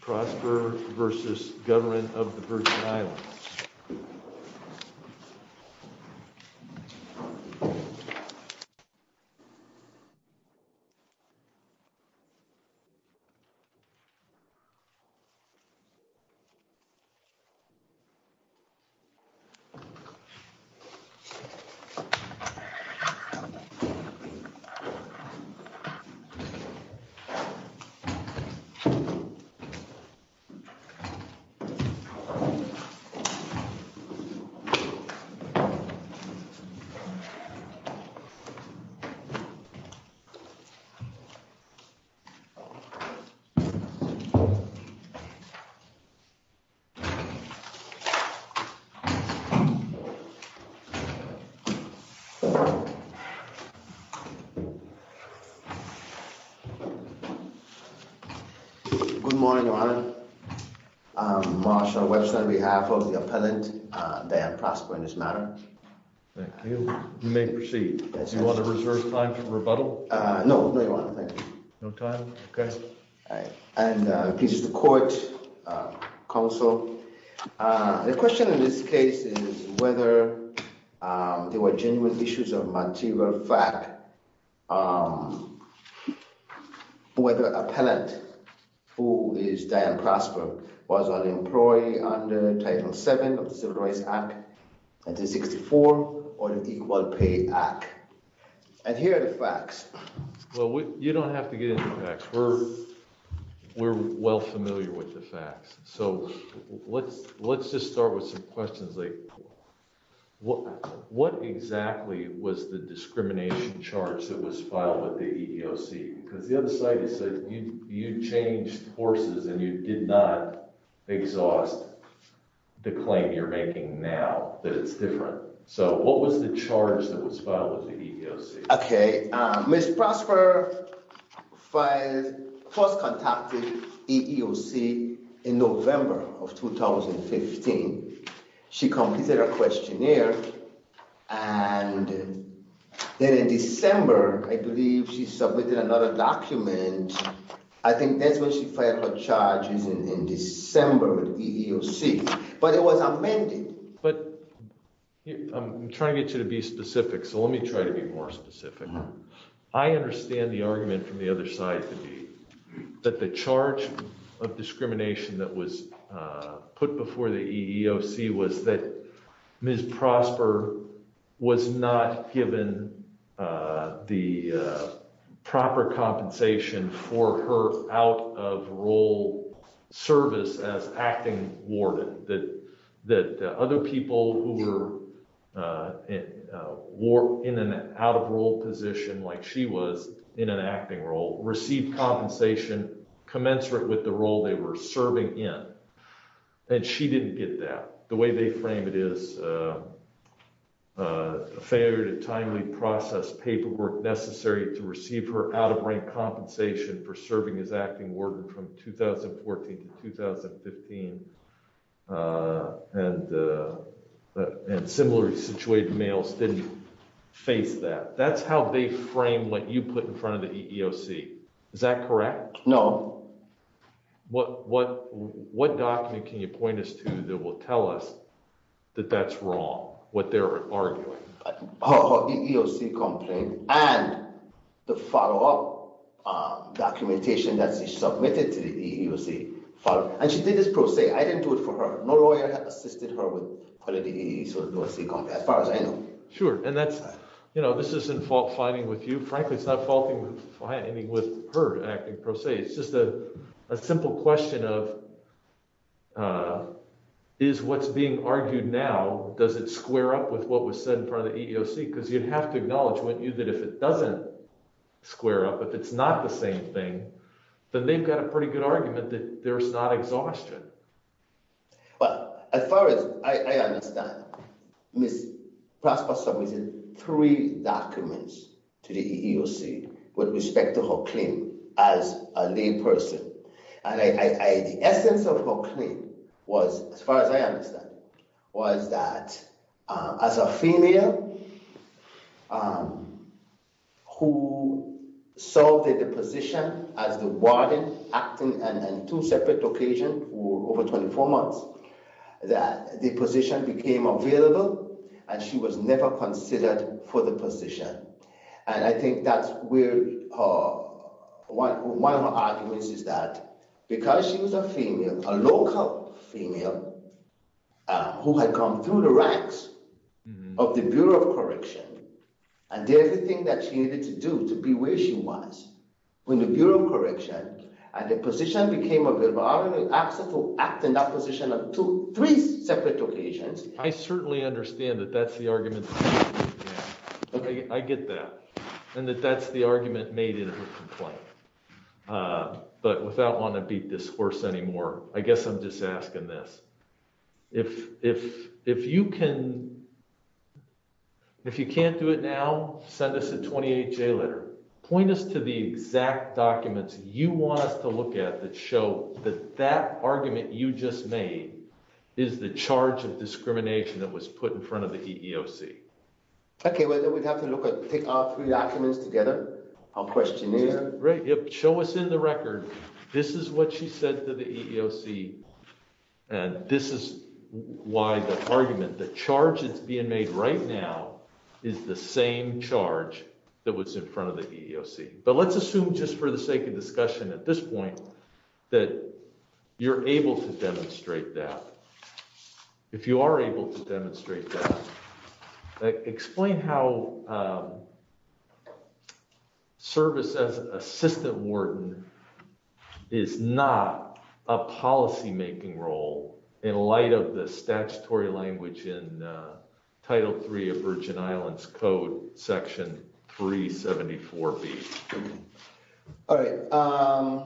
Prosper v. Government of the Virgin Islands Martial Webster, on behalf of the appellant, Diane Prosper, in this matter. Thank you. You may proceed. Do you want to reserve time for rebuttal? No. No, Your Honor. Thank you. No time? Okay. And, please, the court, counsel. The question in this case is whether there were genuine issues of material fact. Whether the appellant, who is Diane Prosper, was an employee under Title VII of the Civil Rights Act 1964 or the Equal Pay Act. And here are the facts. Well, you don't have to get into the facts. We're well familiar with the facts. So, let's just start with some questions. What exactly was the discrimination charge that was filed with the EEOC? Because the other side has said you changed horses and you did not exhaust the claim you're making now, that it's different. So, what was the charge that was filed with the EEOC? Okay. Ms. Prosper first contacted the EEOC in November of 2015. She completed her questionnaire and then in December, I believe, she submitted another document. I think that's when she filed her charges in December with the EEOC. But it was amended. But I'm trying to get you to be specific, so let me try to be more specific. I understand the argument from the other side to be that the charge of discrimination that was put before the EEOC was that Ms. Prosper was not given the proper compensation for her out of role service as acting warden. That other people who were in an out of role position like she was in an acting role received compensation commensurate with the role they were serving in. And she didn't get that. The way they frame it is a failure to timely process paperwork necessary to receive her out of rank compensation for serving as acting warden from 2014 to 2015 and similarly situated males didn't face that. That's how they frame what you put in front of the EEOC. Is that correct? No. What document can you point us to that will tell us that that's wrong, what they're arguing? Her EEOC complaint and the follow-up documentation that she submitted to the EEOC. And she did this pro se. I didn't do it for her. No lawyer assisted her with quality EEOC complaint as far as I know. Sure. And that's, you know, this isn't fault finding with you. Frankly, it's not fault finding with her acting pro se. It's just a simple question of is what's being argued now, does it square up with what was said in front of the EEOC? Because you'd have to acknowledge, wouldn't you, that if it doesn't square up, if it's not the same thing, then they've got a pretty good argument that there's not exhaustion. But as far as I understand, Ms. Prosper submitted three documents to the EEOC with respect to her claim as a layperson. And the essence of her claim was, as far as I understand, was that as a female who served in the position as the warden acting on two separate occasions over 24 months, that the position became available and she was never considered for the position. And I think that's where her – one of her arguments is that because she was a female, a local female who had come through the ranks of the Bureau of Correction and did everything that she needed to do to be where she was when the Bureau of Correction and the position became available, I don't know, asked her to act in that position on two – three separate occasions. I certainly understand that that's the argument. I get that. And that that's the argument made in her complaint. But without wanting to beat this horse anymore, I guess I'm just asking this. If you can – if you can't do it now, send us a 28-J letter. Point us to the exact documents you want us to look at that show that that argument you just made is the charge of discrimination that was put in front of the EEOC. Okay. Well, then we'd have to look at – take our three documents together, our questionnaire. Yeah, show us in the record. This is what she said to the EEOC, and this is why the argument – the charge that's being made right now is the same charge that was in front of the EEOC. But let's assume just for the sake of discussion at this point that you're able to demonstrate that. If you are able to demonstrate that, explain how service as assistant warden is not a policymaking role in light of the statutory language in Title III of Virgin Islands Code, Section 374B. All right. All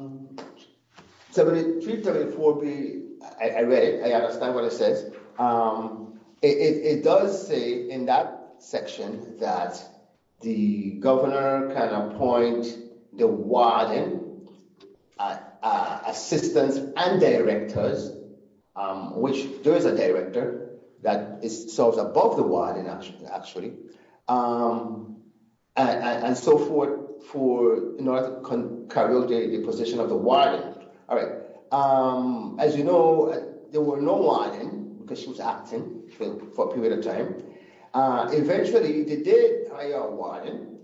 right. As you know, there were no warden because she was acting for a period of time. Eventually, they did hire a warden,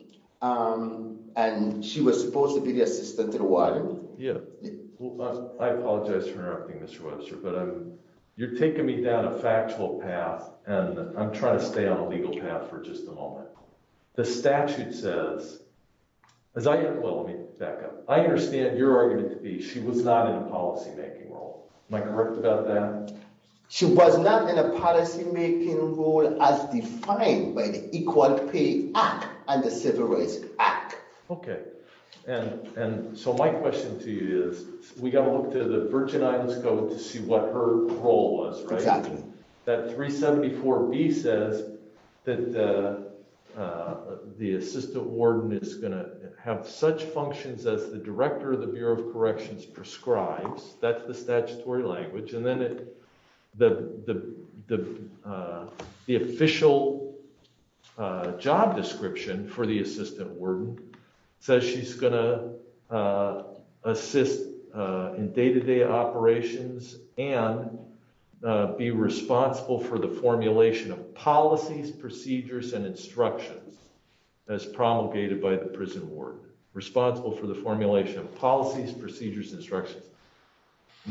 and she was supposed to be the assistant to the warden. Yeah. I apologize for interrupting, Mr. Webster, but you're taking me down a factual path, and I'm trying to stay on a legal path for just a moment. The statute says – well, let me back up. I understand your argument to be she was not in a policymaking role. Am I correct about that? She was not in a policymaking role as defined by the Equal Pay Act and the Civil Rights Act. Okay. And so my question to you is we got to look to the Virgin Islands Code to see what her role was, right? Exactly. That 374B says that the assistant warden is going to have such functions as the director of the Bureau of Corrections prescribes. That's the statutory language. And then the official job description for the assistant warden says she's going to assist in day-to-day operations and be responsible for the formulation of policies, procedures, and instructions as promulgated by the prison warden, responsible for the formulation of policies, procedures, instructions.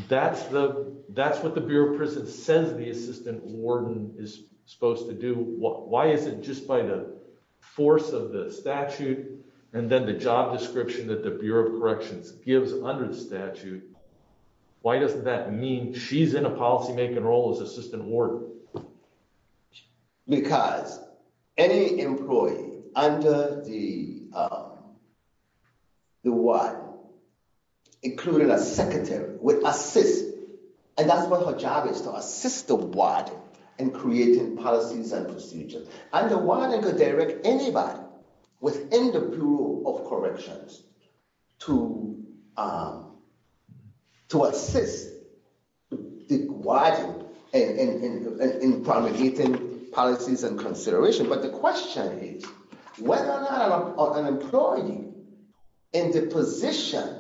That's what the Bureau of Prisons says the assistant warden is supposed to do. Why is it just by the force of the statute and then the job description that the Bureau of Corrections gives under the statute, why doesn't that mean she's in a policymaking role as assistant warden? Because any employee under the warden, including a secretary, would assist. And that's what her job is, to assist the warden in creating policies and procedures. And the warden could direct anybody within the Bureau of Corrections to assist the warden in promulgating policies and considerations. But the question is whether or not an employee in the position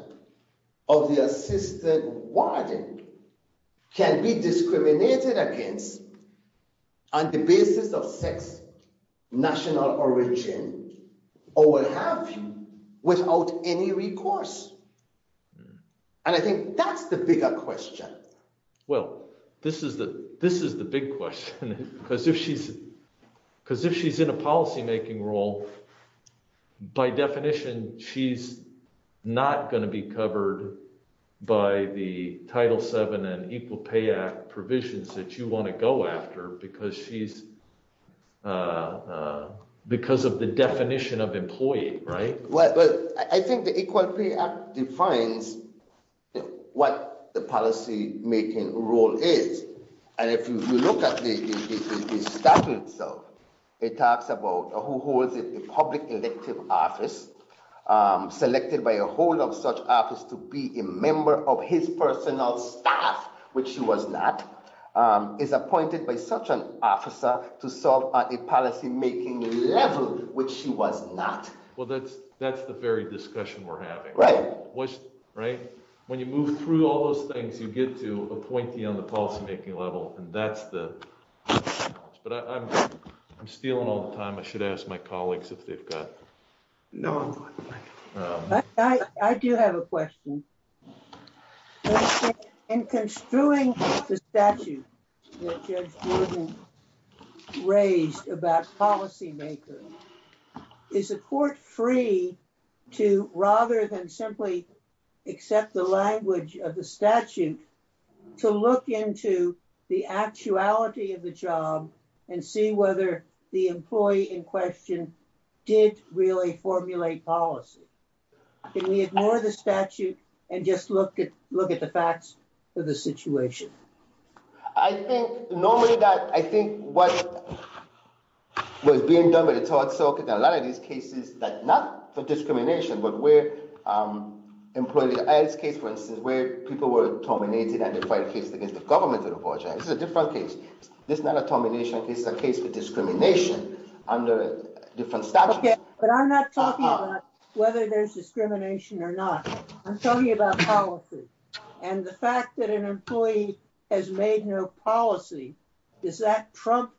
of the assistant warden can be discriminated against on the basis of sex, national origin, or what have you, without any recourse. And I think that's the bigger question. Well, this is the big question. Because if she's in a policymaking role, by definition, she's not going to be covered by the Title VII and Equal Pay Act provisions that you want to go after because of the definition of employee, right? Well, I think the Equal Pay Act defines what the policymaking role is. And if you look at the statute itself, it talks about who holds the public elective office, selected by a hold of such office to be a member of his personal staff, which she was not, is appointed by such an officer to serve on a policymaking level, which she was not. That's the very discussion we're having. When you move through all those things, you get to appointee on the policymaking level, and that's the challenge. But I'm stealing all the time. I should ask my colleagues if they've got... No, I'm good. I do have a question. In construing the statute that Judge Gordon raised about policymaking, is the court free to, rather than simply accept the language of the statute, to look into the actuality of the job and see whether the employee in question did really formulate policy? Can we ignore the statute and just look at the facts of the situation? I think normally that... I think what was being done by the tort circuit in a lot of these cases, not for discrimination, but where employees... In this case, for instance, where people were terminated and they filed a case against the government of the Virginia. This is a different case. This is not a termination case. This is a case for discrimination under different statutes. Okay, but I'm not talking about whether there's discrimination or not. I'm talking about policy. And the fact that an employee has made no policy, does that trump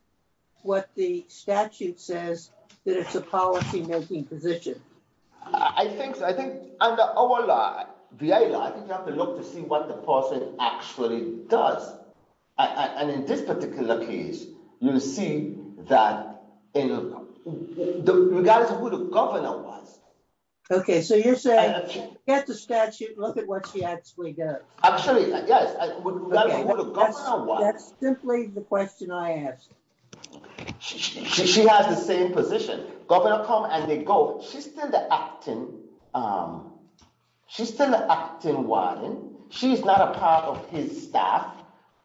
what the statute says, that it's a policymaking position? I think under our law, VA law, I think you have to look to see what the person actually does. And in this particular case, you see that in regards to who the governor was. Okay, so you're saying get the statute and look at what she actually does. Actually, yes. That's simply the question I asked. She has the same position. Governor come and they go. She's still the acting warden. She's not a part of his staff.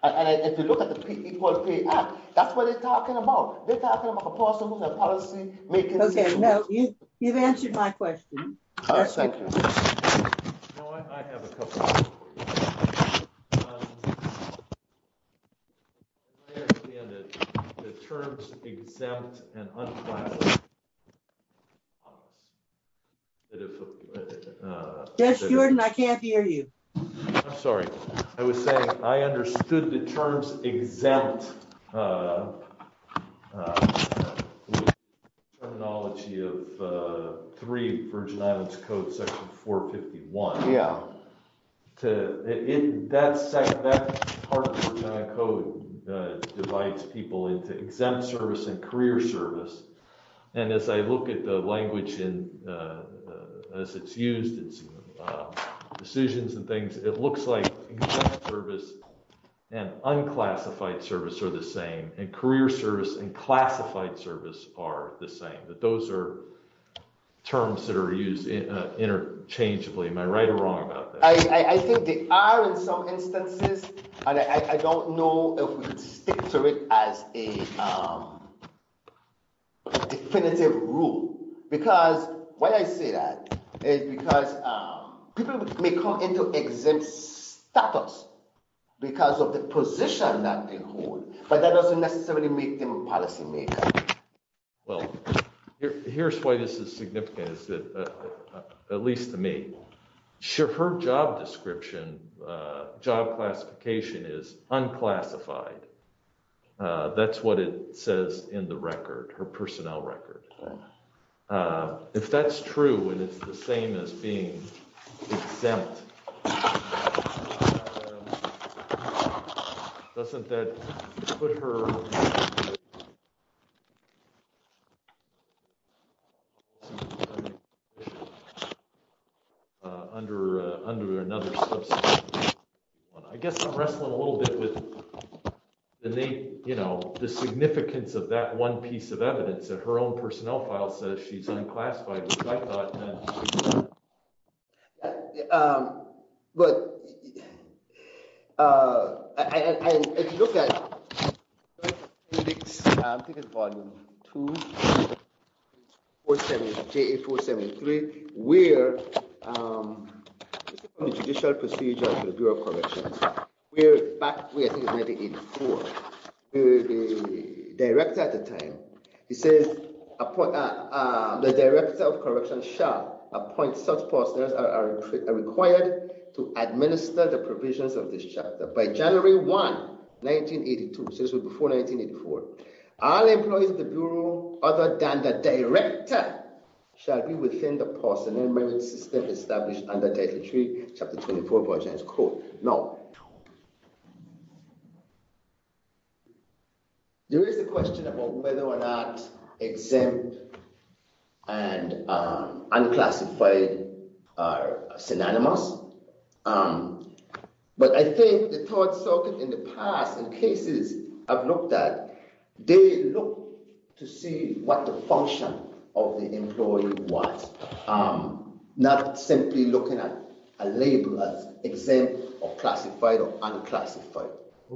And if you look at the PPP Act, that's what they're talking about. They're talking about a person who's a policymaker. Okay, no, you've answered my question. I have a couple of questions for you. The terms exempt and unclassified. Yes, Jordan, I can't hear you. I'm sorry. I was saying I understood the terms exempt terminology of three Virgin Islands code section 451. Yeah. That part of the code divides people into exempt service and career service. And as I look at the language and as it's used in decisions and things, it looks like service and unclassified service are the same and career service and classified service are the same. Those are terms that are used interchangeably. Am I right or wrong about that? I think they are in some instances, and I don't know if we can stick to it as a definitive rule. Because why I say that is because people may come into exempt status because of the position that they hold, but that doesn't necessarily make them a policymaker. Well, here's why this is significant, at least to me. Sure, her job description, job classification is unclassified. That's what it says in the record, her personnel record. If that's true and it's the same as being exempt. Doesn't that put her under another subsection? I guess I'm wrestling a little bit with the significance of that one piece of evidence that her own personnel file says she's unclassified. But, if you look at the Judicial Procedure of the Bureau of Corrections, back in 1984, the director at the time, he says, The director of corrections shall appoint such personnel as are required to administer the provisions of this chapter. By January 1, 1982, so this was before 1984, all employees of the Bureau, other than the director, shall be within the personnel merit system established under Title III, Chapter 24 of the Virginia's Code. Now, there is a question about whether or not exempt and unclassified are synonymous. But I think the Third Circuit in the past, in cases I've looked at, they look to see what the function of the employee was, not simply looking at a label as exempt or classified or unclassified.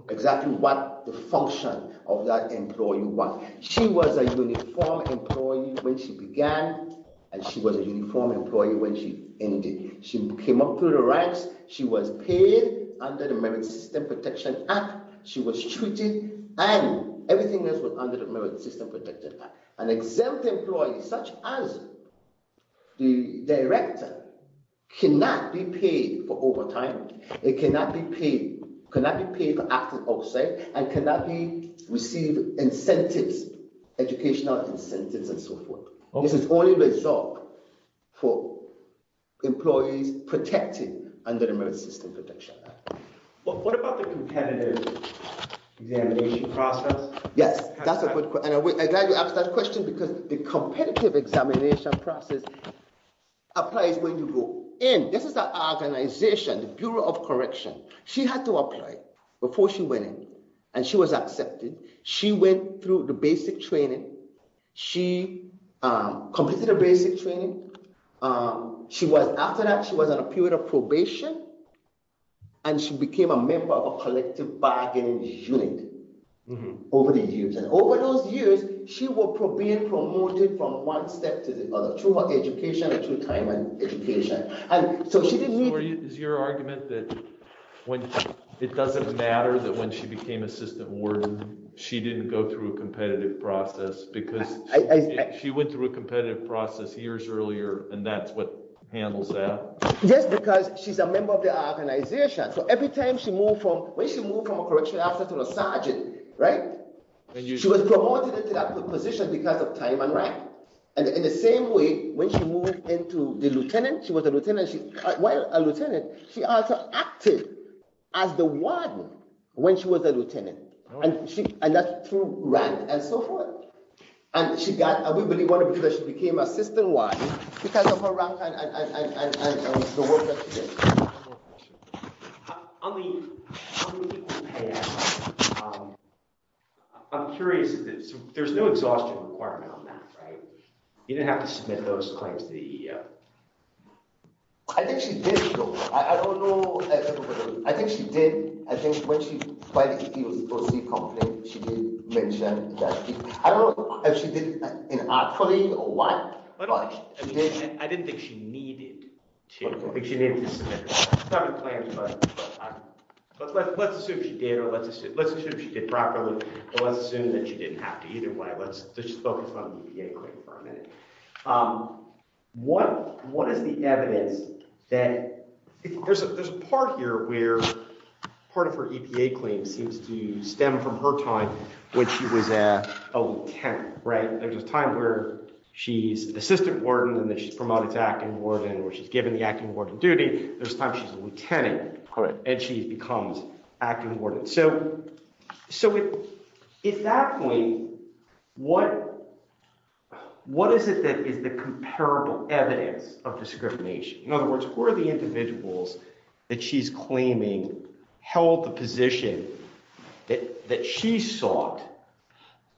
Exactly what the function of that employee was. She was a uniformed employee when she began, and she was a uniformed employee when she ended. She came up through the ranks, she was paid under the Merit System Protection Act, she was treated, and everything else was under the Merit System Protection Act. An exempt employee, such as the director, cannot be paid for overtime, cannot be paid for acting outside, and cannot receive incentives, educational incentives, and so forth. This is only reserved for employees protected under the Merit System Protection Act. But what about the competitive examination process? Yes, that's a good question, and I'm glad you asked that question because the competitive examination process applies when you go in. This is an organization, the Bureau of Correction. She had to apply before she went in, and she was accepted. She went through the basic training. She completed the basic training. After that, she was on a period of probation, and she became a member of a collective bargaining unit over the years. And over those years, she was promoted from one step to the other through her education and through time and education. Is your argument that it doesn't matter that when she became assistant warden, she didn't go through a competitive process because she went through a competitive process years earlier, and that's what handles that? Yes, because she's a member of the organization. So every time she moved from a correctional officer to a sergeant, she was promoted into that position because of time and rank. In the same way, when she moved into the lieutenant, she was a lieutenant. While a lieutenant, she also acted as the warden when she was a lieutenant, and that's through rank and so forth. And we believe that she became assistant warden because of her rank and the work that she did. On the unpaid assignment, I'm curious. There's no exhaustion requirement on that, right? You didn't have to submit those claims to the EEO. I think she did, though. I don't know. I think she did. I think when she filed the EEOC complaint, she did mention that. I don't know if she did it in an according or what. I didn't think she needed to. I don't think she needed to submit seven claims, but let's assume she did or let's assume she did properly. Let's assume that she didn't have to either way. Let's just focus on the EPA claim for a minute. What is the evidence that—there's a part here where part of her EPA claim seems to stem from her time when she was a lieutenant, right? There's a time where she's assistant warden and then she's promoted to acting warden or she's given the acting warden duty. There's a time she's a lieutenant and she becomes acting warden. So at that point, what is it that is the comparable evidence of discrimination? In other words, who are the individuals that she's claiming held the position that she sought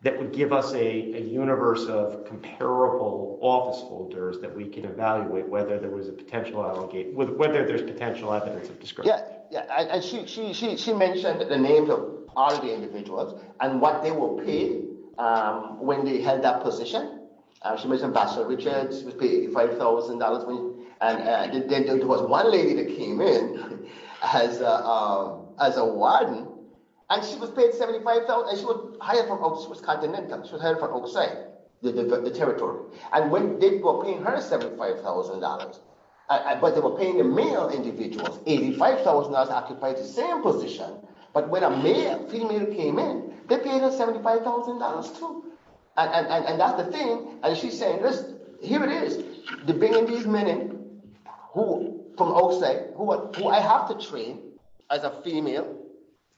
that would give us a universe of comparable office holders that we could evaluate whether there was a potential—whether there's potential evidence of discrimination? She mentioned the names of all the individuals and what they were paid when they held that position. She mentioned Ambassador Richards. She was paid $5,000. Then there was one lady that came in as a warden, and she was paid $75,000. She was hired from Occitan Income. She was hired from Occitan, the territory. They were paying her $75,000, but they were paying the male individuals. $85,000 occupied the same position, but when a male female came in, they paid her $75,000 too. That's the thing. She's saying, here it is. They're bringing these men in from outside who I have to train as a female.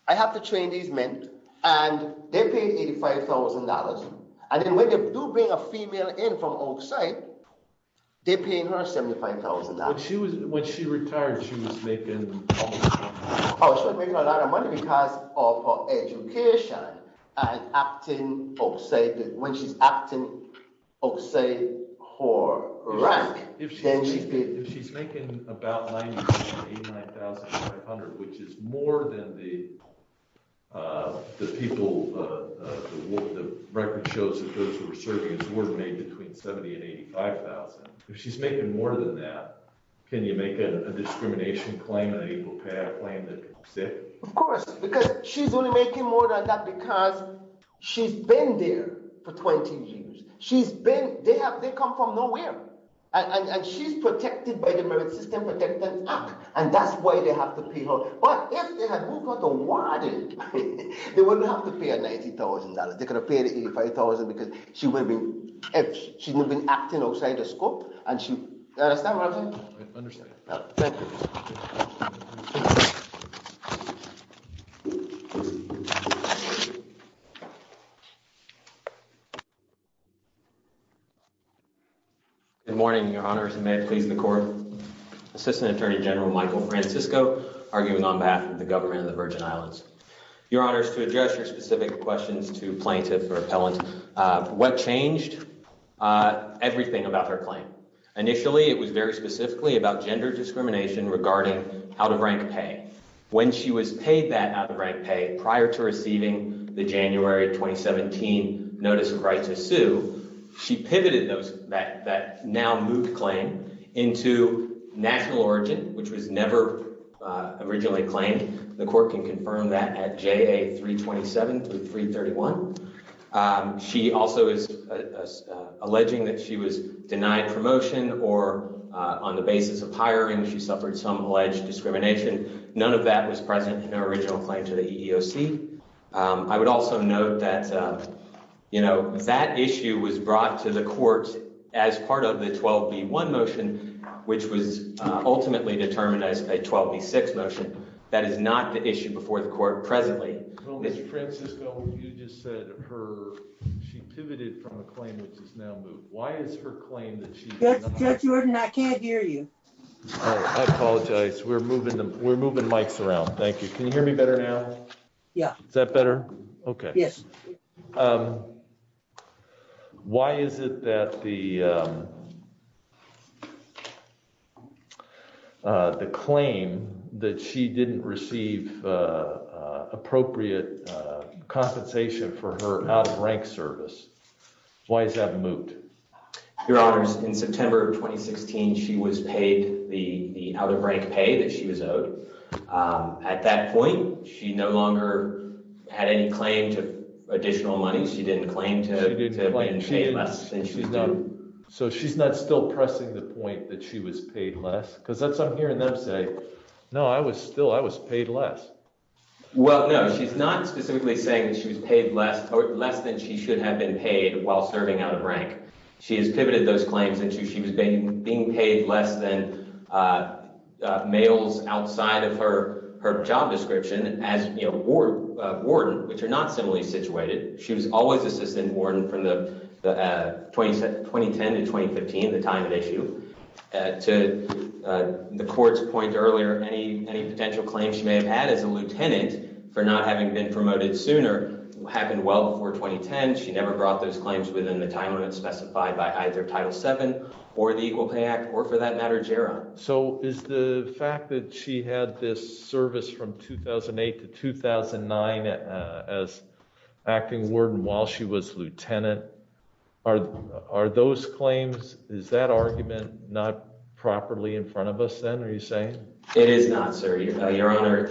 I have to train these men, and they're paid $85,000. When they do bring a female in from Oaksite, they're paying her $75,000. When she retired, she was making— Oh, she was making a lot of money because of her education and acting Oaksite. When she's acting Oaksite her rank, then she's— If she's making about $99,500, which is more than the people—the record shows that those who were serving as warden made between $70,000 and $85,000. If she's making more than that, can you make a discrimination claim and an equal payout claim that she's sick? Of course, because she's only making more than that because she's been there for 20 years. They come from nowhere. She's protected by the Merit System Protectors Act, and that's why they have to pay her. If they had moved her to warden, they wouldn't have to pay her $90,000. They could have paid her $85,000 because she would have been acting outside the scope. Do you understand what I'm saying? I understand. Thank you. Good morning, Your Honors, and may it please the Court. Assistant Attorney General Michael Francisco arguing on behalf of the government of the Virgin Islands. Your Honors, to address your specific questions to plaintiff or appellant, what changed? Everything about her claim. Initially, it was very specifically about gender discrimination regarding out-of-rank pay. When she was paid that out-of-rank pay prior to receiving the January 2017 notice of right to sue, she pivoted that now-moved claim into national origin, which was never originally claimed. The Court can confirm that at JA 327 to 331. She also is alleging that she was denied promotion or on the basis of hiring, she suffered some alleged discrimination. None of that was present in her original claim to the EEOC. I would also note that, you know, that issue was brought to the Court as part of the 12B1 motion, which was ultimately determined as a 12B6 motion. That is not the issue before the Court presently. Well, Mr. Francisco, you just said she pivoted from a claim which is now moved. Why is her claim that she— Judge Jordan, I can't hear you. I apologize. We're moving mics around. Thank you. Can you hear me better now? Yeah. Is that better? Okay. Yes. Why is it that the claim that she didn't receive appropriate compensation for her out-of-rank service, why is that moot? Your Honors, in September of 2016, she was paid the out-of-rank pay that she was owed. At that point, she no longer had any claim to additional money. She didn't claim to have been paid less than she was due. So she's not still pressing the point that she was paid less? Because that's what I'm hearing them say. No, I was still—I was paid less. Well, no, she's not specifically saying that she was paid less than she should have been paid while serving out-of-rank. She has pivoted those claims into she was being paid less than males outside of her job description as warden, which are not similarly situated. She was always assistant warden from 2010 to 2015, the time at issue. To the court's point earlier, any potential claims she may have had as a lieutenant for not having been promoted sooner happened well before 2010. She never brought those claims within the time limit specified by either Title VII or the Equal Pay Act or, for that matter, GERA. So is the fact that she had this service from 2008 to 2009 as acting warden while she was lieutenant, are those claims— is that not properly in front of us then, are you saying? It is not, sir, Your Honor.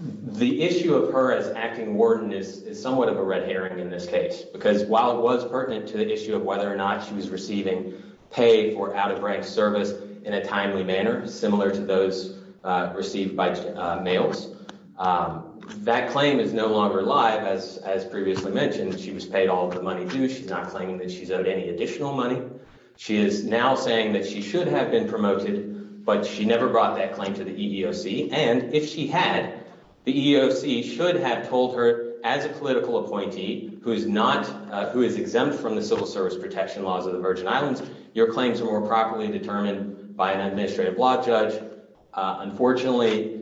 The issue of her as acting warden is somewhat of a red herring in this case because while it was pertinent to the issue of whether or not she was receiving pay for out-of-rank service in a timely manner, similar to those received by males, that claim is no longer live. As previously mentioned, she was paid all of the money due. She's not claiming that she's owed any additional money. She is now saying that she should have been promoted, but she never brought that claim to the EEOC. And if she had, the EEOC should have told her as a political appointee who is exempt from the civil service protection laws of the Virgin Islands, your claims are more properly determined by an administrative law judge. Unfortunately,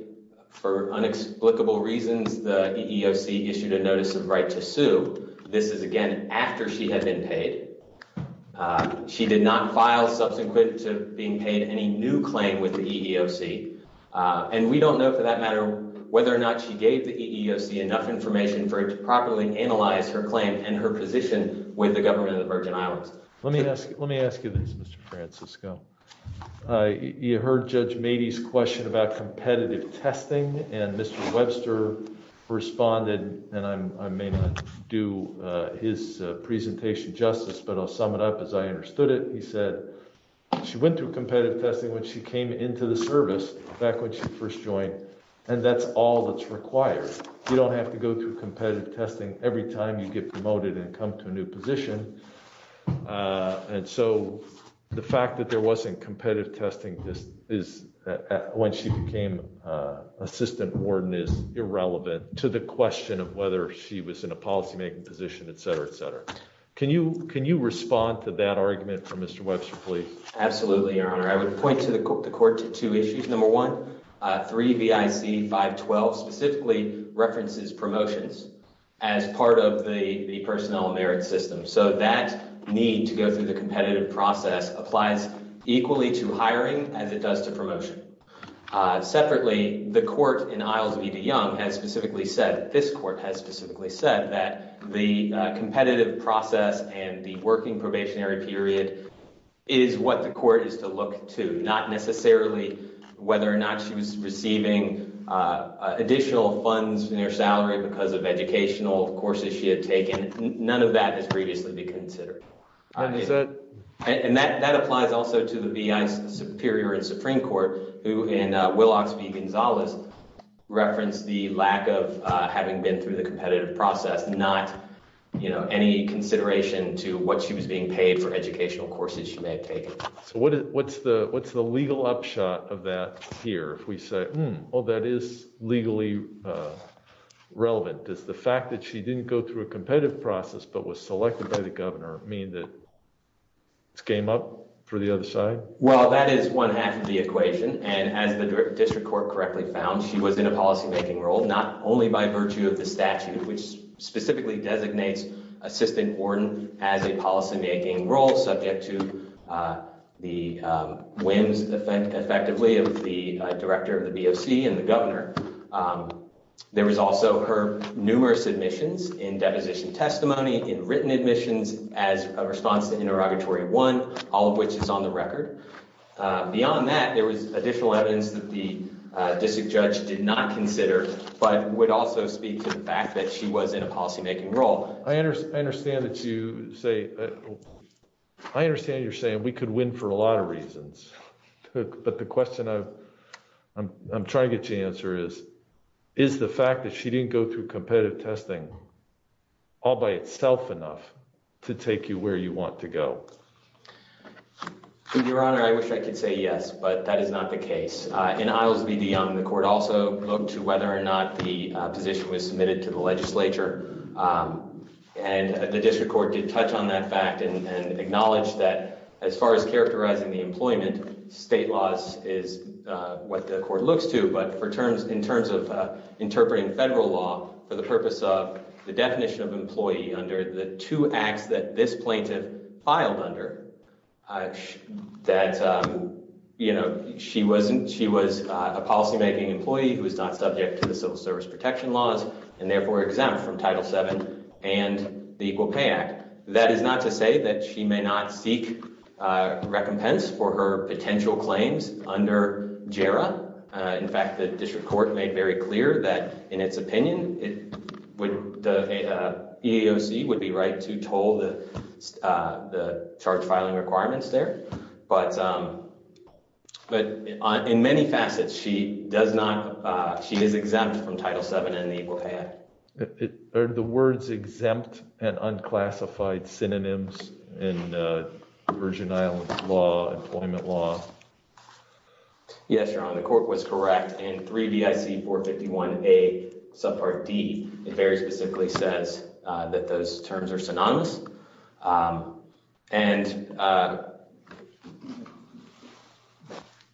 for unexplicable reasons, the EEOC issued a notice of right to sue. This is, again, after she had been paid. She did not file subsequent to being paid any new claim with the EEOC. And we don't know for that matter whether or not she gave the EEOC enough information for it to properly analyze her claim and her position with the government of the Virgin Islands. Let me ask you this, Mr. Francisco. You heard Judge Mady's question about competitive testing, and Mr. Webster responded, and I may not do his presentation justice, but I'll sum it up as I understood it. He said she went through competitive testing when she came into the service back when she first joined, and that's all that's required. You don't have to go through competitive testing every time you get promoted and come to a new position. And so the fact that there wasn't competitive testing when she became assistant warden is irrelevant to the question of whether she was in a policymaking position, etc., etc. Can you respond to that argument for Mr. Webster, please? Absolutely, Your Honor. I would point the court to two issues. Number one, 3 V.I.C. 512 specifically references promotions as part of the personnel merit system. So that need to go through the competitive process applies equally to hiring as it does to promotion. Separately, the court in Isles v. de Young has specifically said, this court has specifically said that the competitive process and the working probationary period is what the court is to look to, not necessarily whether or not she was receiving additional funds in her salary because of educational courses she had taken. None of that has previously been considered. And that applies also to the V.I.C. Superior and Supreme Court, who in Willox v. Gonzalez referenced the lack of having been through the competitive process, not, you know, any consideration to what she was being paid for educational courses she may have taken. So what's the legal upshot of that here if we say, oh, that is legally relevant. Does the fact that she didn't go through a competitive process but was selected by the governor mean that it's game up for the other side? Well, that is one half of the equation. And as the district court correctly found, she was in a policymaking role, not only by virtue of the statute, which specifically designates Assistant Warden as a policymaking role subject to the whims effectively of the director of the B.O.C. and the governor. There was also her numerous admissions in deposition testimony, in written admissions as a response to interrogatory one, all of which is on the record. Beyond that, there was additional evidence that the district judge did not consider but would also speak to the fact that she was in a policymaking role. I understand that you say I understand you're saying we could win for a lot of reasons. But the question I'm trying to answer is, is the fact that she didn't go through competitive testing all by itself enough to take you where you want to go. Your Honor, I wish I could say yes, but that is not the case. In Islesby v. Young, the court also looked to whether or not the position was submitted to the legislature. And the district court did touch on that fact and acknowledged that as far as characterizing the employment, state laws is what the court looks to. But in terms of interpreting federal law for the purpose of the definition of employee under the two acts that this plaintiff filed under, that she was a policymaking employee who is not subject to the civil service protection laws and therefore exempt from Title VII and the Equal Pay Act. That is not to say that she may not seek recompense for her potential claims under JARA. In fact, the district court made very clear that in its opinion, the EEOC would be right to toll the charge filing requirements there. But in many facets, she does not, she is exempt from Title VII and the Equal Pay Act. Are the words exempt and unclassified synonyms in Virgin Islands law, employment law? Yes, Your Honor, the court was correct in 3 BIC 451A subpart D. It very specifically says that those terms are synonymous. And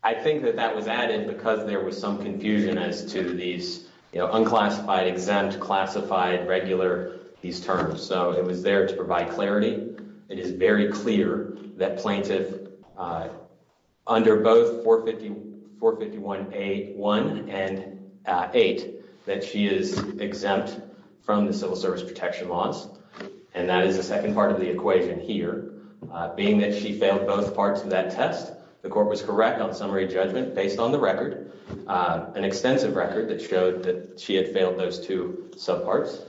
I think that that was added because there was some confusion as to these unclassified, exempt, classified, regular, these terms. So it was there to provide clarity. It is very clear that plaintiff under both 451A1 and 8, that she is exempt from the civil service protection laws. And that is the second part of the equation here, being that she failed both parts of that test. The court was correct on summary judgment based on the record, an extensive record that showed that she had failed those two subparts.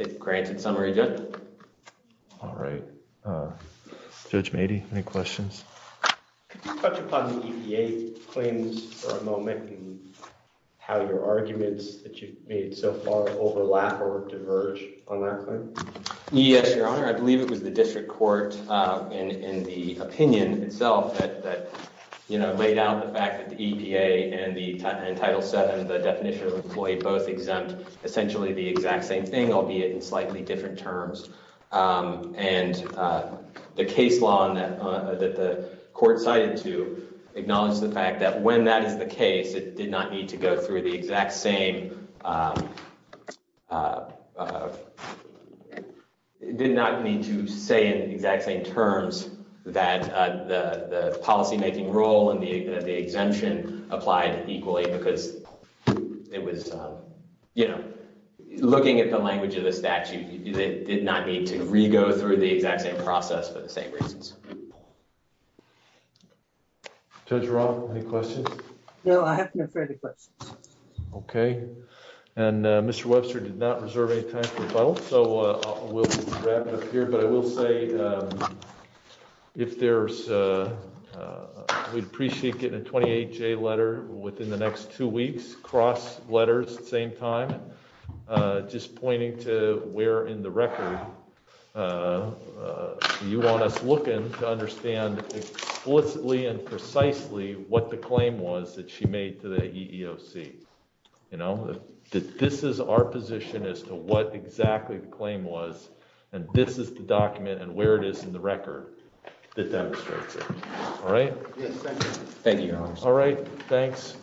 It granted summary judgment. All right. Judge Mady, any questions? Could you touch upon the EPA claims for a moment and how your arguments that you've made so far overlap or diverge on that claim? Yes, Your Honor, I believe it was the district court in the opinion itself that laid out the fact that the EPA and Title VII, the definition of employee, both exempt essentially the exact same thing, albeit in slightly different terms. And the case law that the court cited to acknowledge the fact that when that is the case, it did not need to go through the exact same, it did not need to say in the exact same terms that the policymaking role and the exemption applied equally because it was, you know, looking at the language of the statute, it did not need to re-go through the exact same process for the same reasons. Judge Roth, any questions? No, I have no further questions. Okay. And Mr. Webster did not reserve any time for rebuttal, so we'll wrap it up here, but I will say if there's, we'd appreciate getting a 28-J letter within the next two weeks, cross letters at the same time, just pointing to where in the record you want us looking to understand explicitly and precisely what the claim was that she made to the EEOC. You know, that this is our position as to what exactly the claim was, and this is the document and where it is in the record that demonstrates it. All right? Yes, thank you. Thank you, Your Honor. All right, thanks.